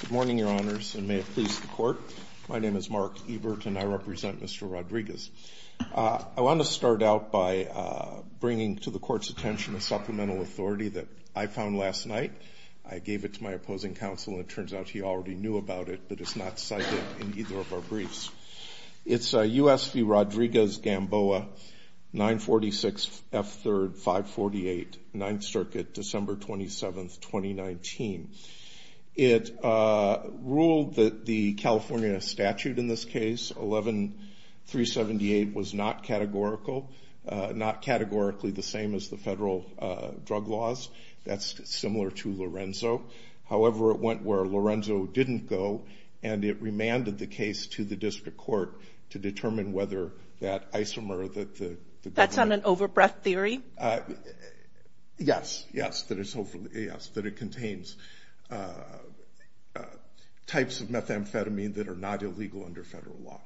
Good morning, your honors, and may it please the court. My name is Mark Ebert and I represent Mr. Rodriguez. I want to start out by bringing to the court's attention a supplemental authority that I found last night. I gave it to my opposing counsel and it turns out he already knew about it, but it's not cited in either of our briefs. It's U.S. v. Rodriguez-Gamboa, 946 F. 3rd, 548, 9th Circuit, December 27th, 2019. It ruled that the California statute in this case, 11-378, was not categorical, not categorically the same as the federal drug laws. That's similar to Lorenzo. However, it went where Lorenzo didn't go and it remanded the case to the district court to determine whether that isomer that the government... That's on an over-breath theory? Yes, yes, that it contains types of methamphetamine that are not illegal under federal law.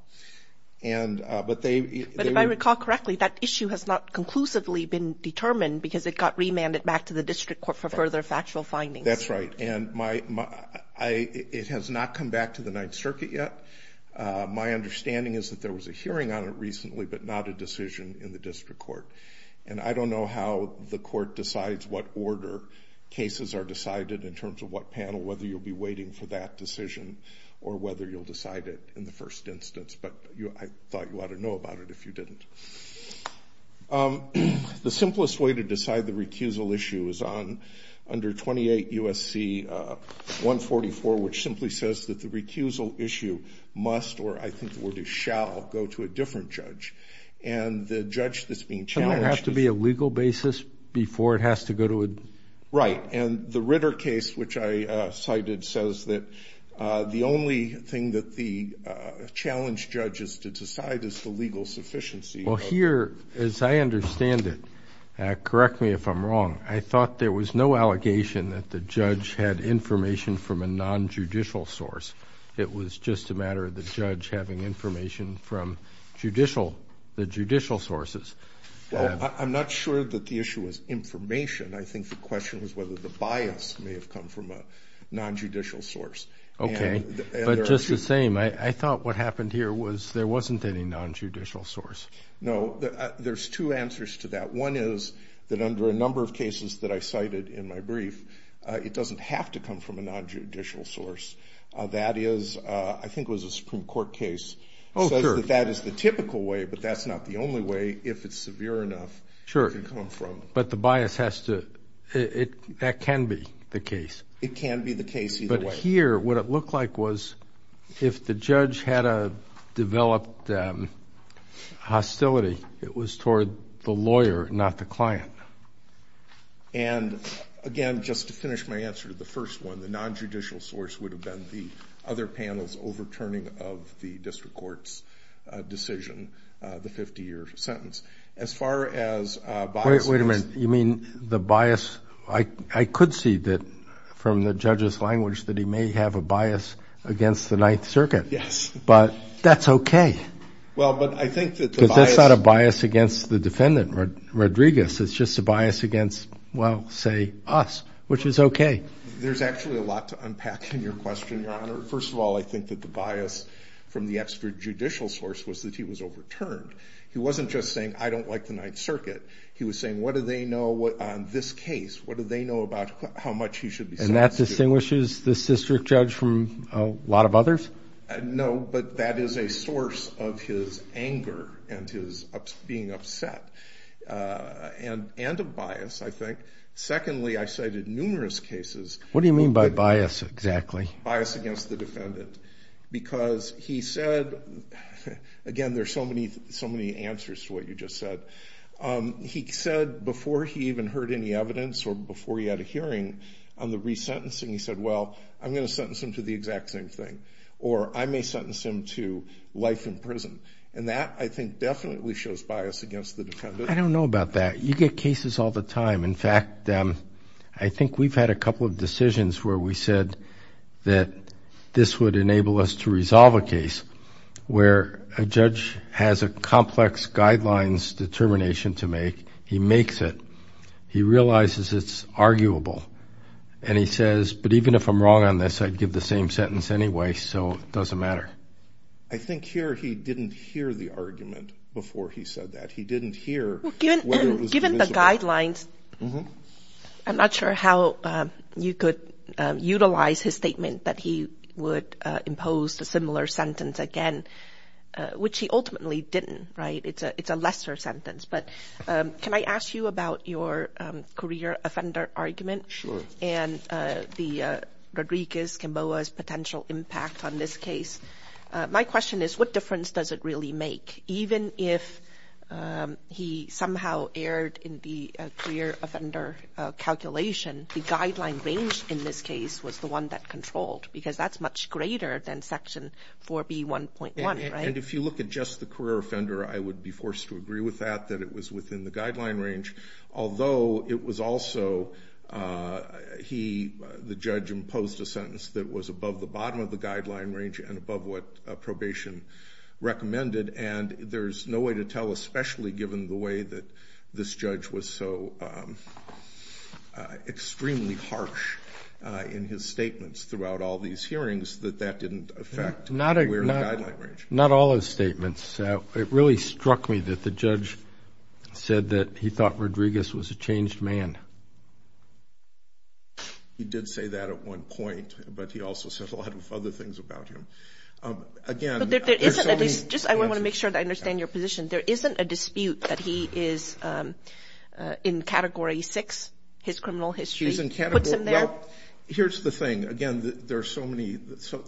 But if I recall correctly, that issue has not conclusively been determined because it got remanded back to the district court for further factual findings. That's right, and it has not come back to the 9th Circuit yet. My understanding is that there was a hearing on it recently, but not a decision in the district court. And I don't know how the court decides what order cases are decided in terms of what panel, whether you'll be waiting for that decision or whether you'll decide it in the first instance, but I thought you ought to know about it if you didn't. The simplest way to decide the recusal issue is under 28 U.S.C. 144, which simply says that the recusal issue must, or I think the word is shall, go to a different judge. And the judge that's being challenged... Doesn't it have to be a legal basis before it has to go to a... Well, here, as I understand it, correct me if I'm wrong, I thought there was no allegation that the judge had information from a nonjudicial source. It was just a matter of the judge having information from the judicial sources. Well, I'm not sure that the issue was information. I think the question was whether the bias may have come from a nonjudicial source. Okay, but just the same, I thought what happened here was there wasn't any nonjudicial source. No, there's two answers to that. One is that under a number of cases that I cited in my brief, it doesn't have to come from a nonjudicial source. That is, I think it was a Supreme Court case, says that that is the typical way, but that's not the only way, if it's severe enough, it can come from... Sure, but the bias has to, that can be the case. It can be the case either way. Here, what it looked like was if the judge had a developed hostility, it was toward the lawyer, not the client. And, again, just to finish my answer to the first one, the nonjudicial source would have been the other panel's overturning of the district court's decision, the 50-year sentence. As far as bias... Yes. But that's okay. Well, but I think that the bias... Because that's not a bias against the defendant, Rodriguez. It's just a bias against, well, say, us, which is okay. There's actually a lot to unpack in your question, Your Honor. First of all, I think that the bias from the extrajudicial source was that he was overturned. He wasn't just saying, I don't like the Ninth Circuit. He was saying, what do they know on this case? What do they know about how much he should be sentenced to? And that distinguishes this district judge from a lot of others? No, but that is a source of his anger and his being upset and a bias, I think. Secondly, I cited numerous cases... What do you mean by bias, exactly? Bias against the defendant because he said, again, there's so many answers to what you just said. He said before he even heard any evidence or before he had a hearing on the resentencing, he said, well, I'm going to sentence him to the exact same thing, or I may sentence him to life in prison. And that, I think, definitely shows bias against the defendant. I don't know about that. You get cases all the time. In fact, I think we've had a couple of decisions where we said that this would enable us to resolve a case where a judge has a complex guidelines determination to make. He makes it. He realizes it's arguable. And he says, but even if I'm wrong on this, I'd give the same sentence anyway, so it doesn't matter. I think here he didn't hear the argument before he said that. He didn't hear whether it was divisible. Given the guidelines, I'm not sure how you could utilize his statement that he would impose a similar sentence again, which he ultimately didn't, right? It's a lesser sentence. But can I ask you about your career offender argument? Sure. And the Rodriguez-Kimboa's potential impact on this case. My question is, what difference does it really make? Even if he somehow erred in the career offender calculation, the guideline range in this case was the one that controlled, because that's much greater than Section 4B1.1, right? And if you look at just the career offender, I would be forced to agree with that, that it was within the guideline range, although it was also he, the judge, imposed a sentence that was above the bottom of the guideline range and above what probation recommended. And there's no way to tell, especially given the way that this judge was so extremely harsh in his statements throughout all these hearings, that that didn't affect the guideline range. Not all his statements. It really struck me that the judge said that he thought Rodriguez was a changed man. He did say that at one point, but he also said a lot of other things about him. Just I want to make sure that I understand your position. There isn't a dispute that he is in Category 6, his criminal history, puts him there? Here's the thing. Again,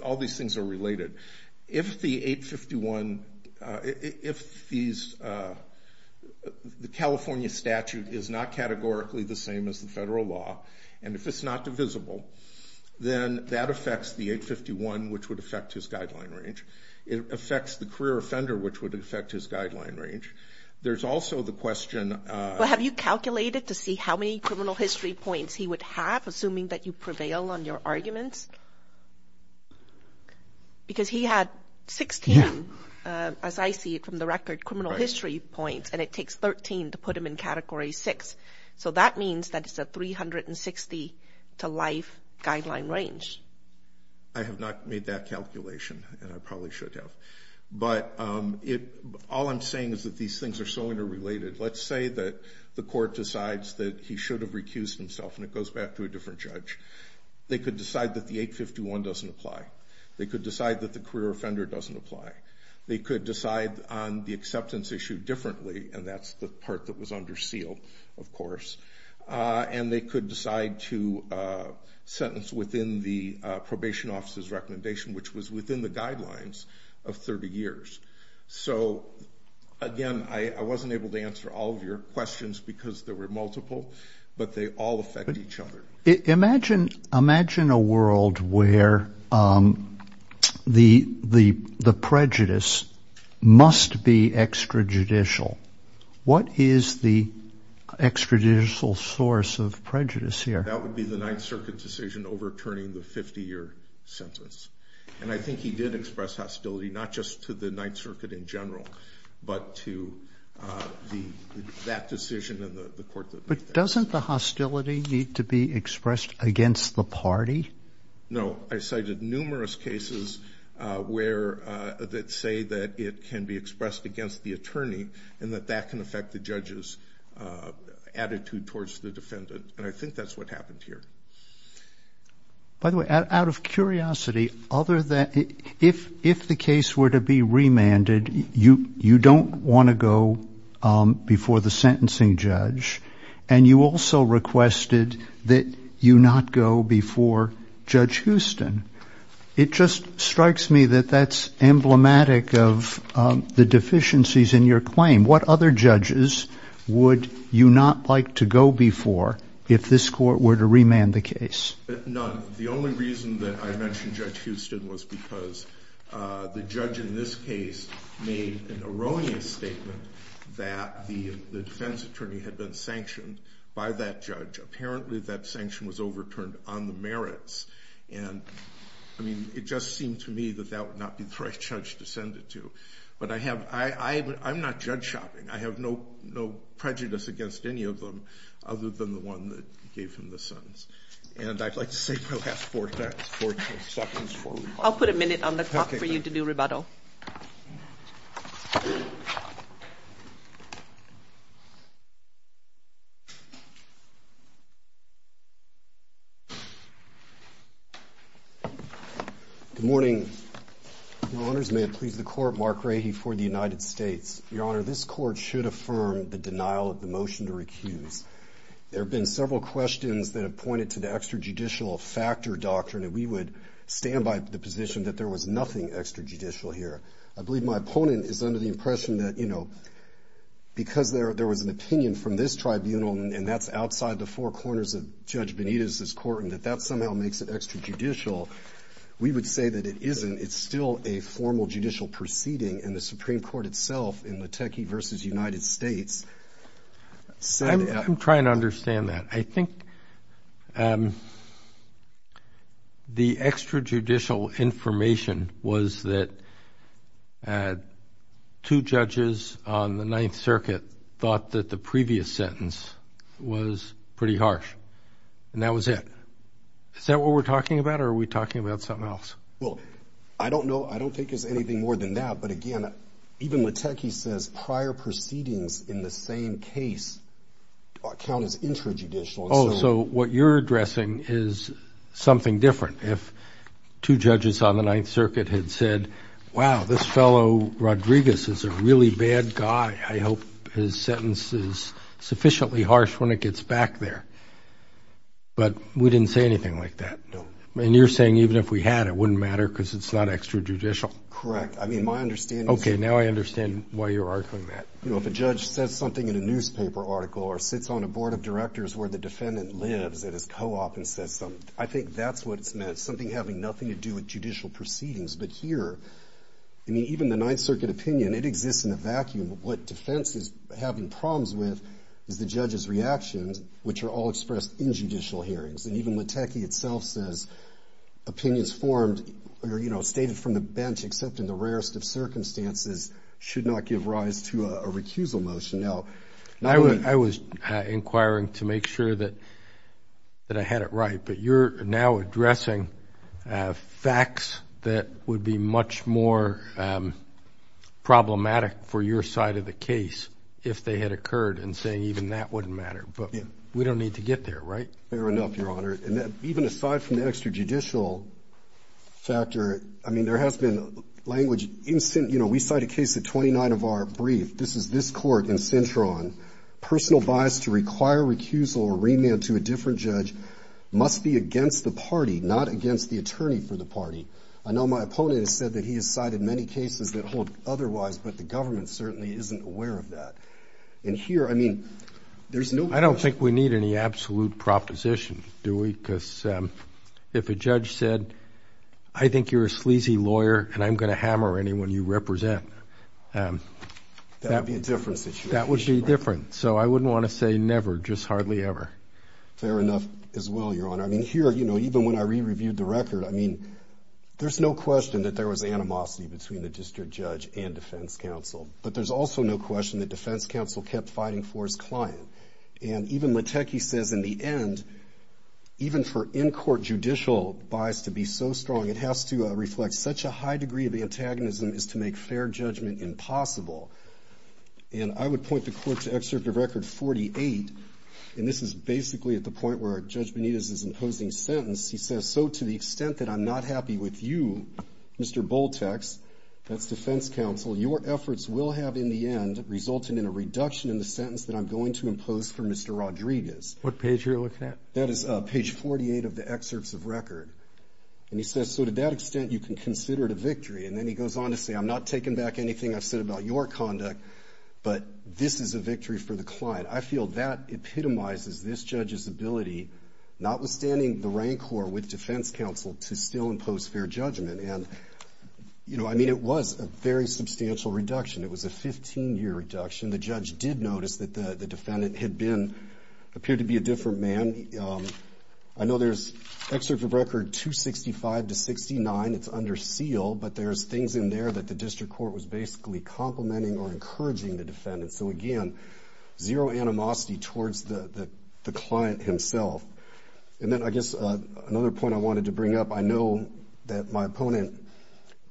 all these things are related. If the California statute is not categorically the same as the federal law, and if it's not divisible, then that affects the 851, which would affect his guideline range. It affects the career offender, which would affect his guideline range. There's also the question of – Well, have you calculated to see how many criminal history points he would have, assuming that you prevail on your arguments? Because he had 16, as I see it from the record, criminal history points, and it takes 13 to put him in Category 6. So that means that it's a 360 to life guideline range. I have not made that calculation, and I probably should have. But all I'm saying is that these things are so interrelated. Let's say that the court decides that he should have recused himself, and it goes back to a different judge. They could decide that the 851 doesn't apply. They could decide that the career offender doesn't apply. They could decide on the acceptance issue differently, and that's the part that was under seal, of course. And they could decide to sentence within the probation officer's recommendation, which was within the guidelines of 30 years. So, again, I wasn't able to answer all of your questions because there were multiple, but they all affect each other. Imagine a world where the prejudice must be extrajudicial. What is the extrajudicial source of prejudice here? That would be the Ninth Circuit decision overturning the 50-year sentence. And I think he did express hostility, not just to the Ninth Circuit in general, but to that decision and the court that made that. But doesn't the hostility need to be expressed against the party? No. I cited numerous cases that say that it can be expressed against the attorney and that that can affect the judge's attitude towards the defendant. And I think that's what happened here. By the way, out of curiosity, if the case were to be remanded, you don't want to go before the sentencing judge, and you also requested that you not go before Judge Houston. It just strikes me that that's emblematic of the deficiencies in your claim. What other judges would you not like to go before if this court were to remand the case? None. The only reason that I mentioned Judge Houston was because the judge in this case made an erroneous statement that the defense attorney had been sanctioned by that judge. Apparently, that sanction was overturned on the merits. And, I mean, it just seemed to me that that would not be the right judge to send it to. But I'm not judge shopping. I have no prejudice against any of them other than the one that gave him the sentence. And I'd like to save my last four seconds for rebuttal. I'll put a minute on the clock for you to do rebuttal. Good morning. Your Honors, may it please the Court, Mark Rahe for the United States. Your Honor, this court should affirm the denial of the motion to recuse. There have been several questions that have pointed to the extrajudicial factor doctrine, and we would stand by the position that there was nothing extrajudicial here. I believe my opponent is under the impression that, you know, because there was an opinion from this tribunal, and that's outside the four corners of Judge Benitez's court and that that somehow makes it extrajudicial, we would say that it isn't. It's still a formal judicial proceeding, and the Supreme Court itself in Lateke v. United States said that. I'm trying to understand that. I think the extrajudicial information was that two judges on the Ninth Circuit thought that the previous sentence was pretty harsh, and that was it. Is that what we're talking about, or are we talking about something else? Well, I don't know. I don't think it's anything more than that. But, again, even Lateke says prior proceedings in the same case count as intrajudicial. Oh, so what you're addressing is something different. If two judges on the Ninth Circuit had said, wow, this fellow, Rodriguez, is a really bad guy, I hope his sentence is sufficiently harsh when it gets back there. But we didn't say anything like that. No. And you're saying even if we had, it wouldn't matter because it's not extrajudicial? Correct. I mean, my understanding is. Okay, now I understand why you're arguing that. You know, if a judge says something in a newspaper article or sits on a board of directors where the defendant lives at his co-op and says something, I think that's what it's meant, something having nothing to do with judicial proceedings. But here, I mean, even the Ninth Circuit opinion, it exists in a vacuum. What defense is having problems with is the judge's reactions, which are all expressed in judicial hearings. And even Lateke itself says opinions formed or, you know, stated from the bench, except in the rarest of circumstances, should not give rise to a recusal motion. Now. I was inquiring to make sure that I had it right. But you're now addressing facts that would be much more problematic for your side of the case if they had occurred and saying even that wouldn't matter. But we don't need to get there, right? Fair enough, Your Honor. And even aside from the extrajudicial factor, I mean, there has been language. You know, we cite a case at 29 of our brief. This is this court in Cintron. Personal bias to require recusal or remand to a different judge must be against the party, not against the attorney for the party. I know my opponent has said that he has cited many cases that hold otherwise, but the government certainly isn't aware of that. And here, I mean, there's no question. I don't think we need any absolute proposition, do we? Because if a judge said, I think you're a sleazy lawyer and I'm going to hammer anyone you represent, that would be a different situation. That would be different. So I wouldn't want to say never, just hardly ever. Fair enough as well, Your Honor. I mean, here, you know, even when I re-reviewed the record, I mean, there's no question that there was animosity between the district judge and defense counsel. But there's also no question that defense counsel kept fighting for his client. And even Lateke says in the end, even for in-court judicial bias to be so strong, it has to reflect such a high degree of antagonism as to make fair judgment impossible. And I would point the court to Excerpt of Record 48, and this is basically at the point where Judge Benitez is imposing a sentence. He says, so to the extent that I'm not happy with you, Mr. Boltex, that's defense counsel, your efforts will have in the end resulted in a reduction in the sentence that I'm going to impose for Mr. Rodriguez. What page are you looking at? That is page 48 of the Excerpts of Record. And he says, so to that extent, you can consider it a victory. And then he goes on to say, I'm not taking back anything I've said about your conduct, but this is a victory for the client. I feel that epitomizes this judge's ability, notwithstanding the rancor with defense counsel, to still impose fair judgment. And, you know, I mean, it was a very substantial reduction. It was a 15-year reduction. The judge did notice that the defendant had been, appeared to be a different man. I know there's Excerpts of Record 265-69. It's under seal, but there's things in there that the district court was basically complimenting or encouraging the defendant. So, again, zero animosity towards the client himself. And then I guess another point I wanted to bring up, I know that my opponent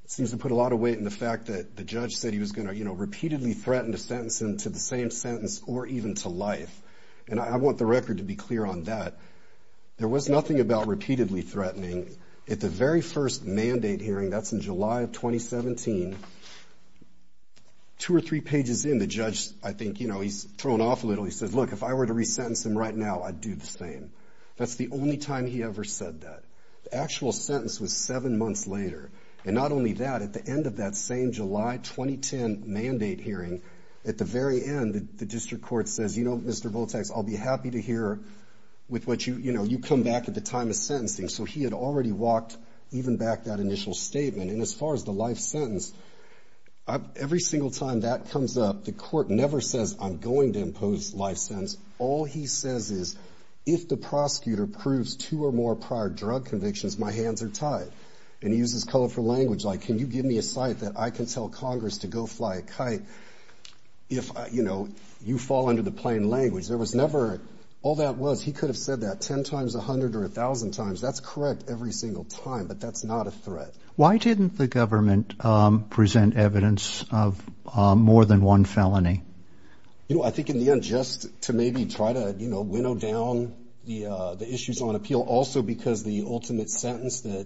seems to put a lot of weight in the fact that the judge said he was going to, you know, repeatedly threaten to sentence him to the same sentence or even to life. And I want the record to be clear on that. There was nothing about repeatedly threatening. At the very first mandate hearing, that's in July of 2017, two or three pages in, the judge, I think, you know, he's thrown off a little. He says, Look, if I were to resentence him right now, I'd do the same. That's the only time he ever said that. The actual sentence was seven months later. And not only that, at the end of that same July 2010 mandate hearing, at the very end, the district court says, You know, Mr. Voltax, I'll be happy to hear with what you, you know, you come back at the time of sentencing. So he had already walked even back that initial statement. And as far as the life sentence, every single time that comes up, the court never says, I'm going to impose life sentence. All he says is, If the prosecutor proves two or more prior drug convictions, my hands are tied. And he uses colorful language like, Can you give me a site that I can tell Congress to go fly a kite? If, you know, you fall under the plain language, there was never, all that was, he could have said that ten times, a hundred or a thousand times. That's correct every single time, but that's not a threat. Why didn't the government present evidence of more than one felony? You know, I think in the end, just to maybe try to, you know, winnow down the issues on appeal, also because the ultimate sentence that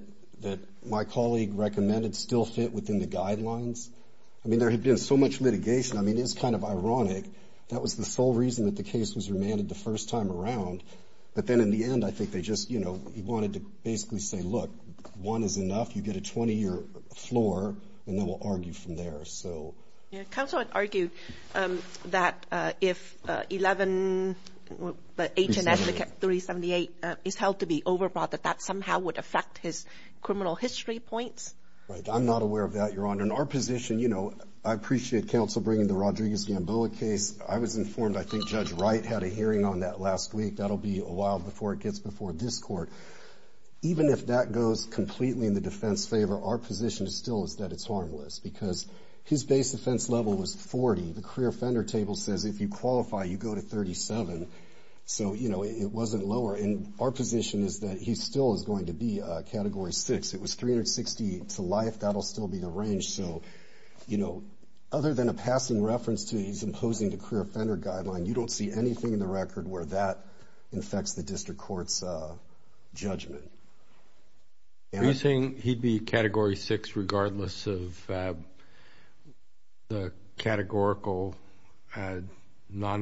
my colleague recommended still fit within the guidelines. I mean, there had been so much litigation. I mean, it's kind of ironic. That was the sole reason that the case was remanded the first time around. But then in the end, I think they just, you know, he wanted to basically say, Look, one is enough. You get a 20-year floor, and then we'll argue from there. Counsel would argue that if HNS 378 is held to be overbought, that that somehow would affect his criminal history points. I'm not aware of that, Your Honor. In our position, you know, I appreciate counsel bringing the Rodriguez-Gamboa case. I was informed, I think, Judge Wright had a hearing on that last week. That will be a while before it gets before this court. Even if that goes completely in the defense's favor, our position still is that it's harmless because his base defense level was 40. The career offender table says if you qualify, you go to 37. So, you know, it wasn't lower. And our position is that he still is going to be Category 6. It was 360 to life. That will still be the range. So, you know, other than a passing reference to his imposing the career offender guideline, you don't see anything in the record where that affects the district court's judgment. Are you saying he'd be Category 6 regardless of the categorical, non-categorical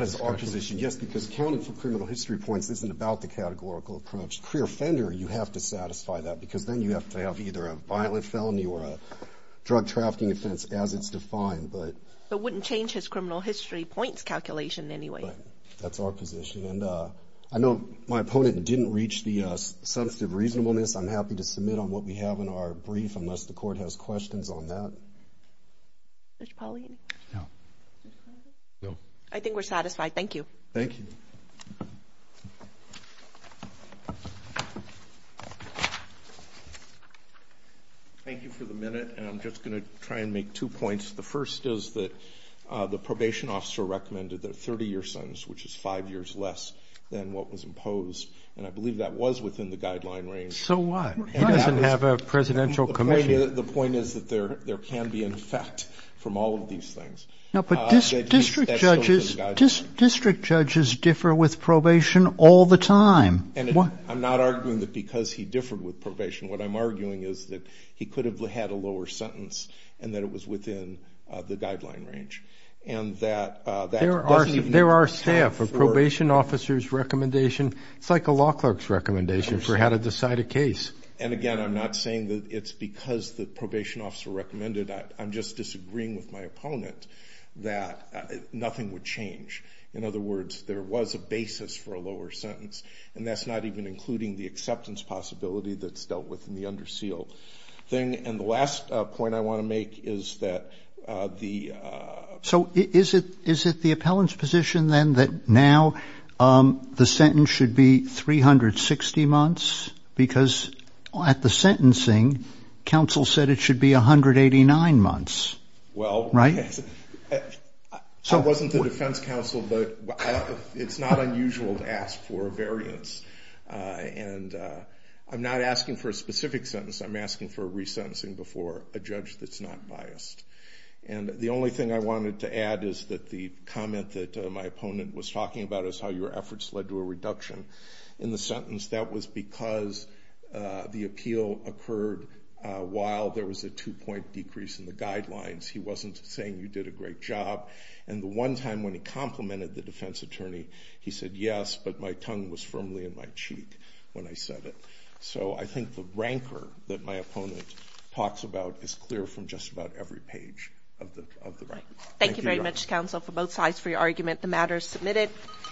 discussion? That is our position, yes, because accounting for criminal history points isn't about the categorical approach. As a career offender, you have to satisfy that because then you have to have either a violent felony or a drug-trafficking offense as it's defined. But it wouldn't change his criminal history points calculation anyway. That's our position. And I know my opponent didn't reach the substantive reasonableness. I'm happy to submit on what we have in our brief unless the court has questions on that. Judge Pauley? No. I think we're satisfied. Thank you. Thank you. Thank you for the minute. And I'm just going to try and make two points. The first is that the probation officer recommended that a 30-year sentence, which is five years less than what was imposed, and I believe that was within the guideline range. So what? He doesn't have a presidential commission. The point is that there can be an effect from all of these things. No, but district judges differ with probation all the time. I'm not arguing that because he differed with probation. What I'm arguing is that he could have had a lower sentence and that it was within the guideline range. There are staff, a probation officer's recommendation, it's like a law clerk's recommendation for how to decide a case. And, again, I'm not saying that it's because the probation officer recommended it. I'm just disagreeing with my opponent that nothing would change. In other words, there was a basis for a lower sentence, and that's not even including the acceptance possibility that's dealt with in the under seal thing. And the last point I want to make is that the ‑‑ So is it the appellant's position then that now the sentence should be 360 months? Because at the sentencing, counsel said it should be 189 months, right? I wasn't the defense counsel, but it's not unusual to ask for a variance. And I'm not asking for a specific sentence. I'm asking for a resentencing before a judge that's not biased. And the only thing I wanted to add is that the comment that my opponent was talking about is how your efforts led to a reduction in the sentence. That was because the appeal occurred while there was a two‑point decrease in the guidelines. He wasn't saying you did a great job. And the one time when he complimented the defense attorney, he said, yes, but my tongue was firmly in my cheek when I said it. So I think the rancor that my opponent talks about is clear from just about every page of the record. Thank you very much, counsel, for both sides for your argument. The matter is submitted.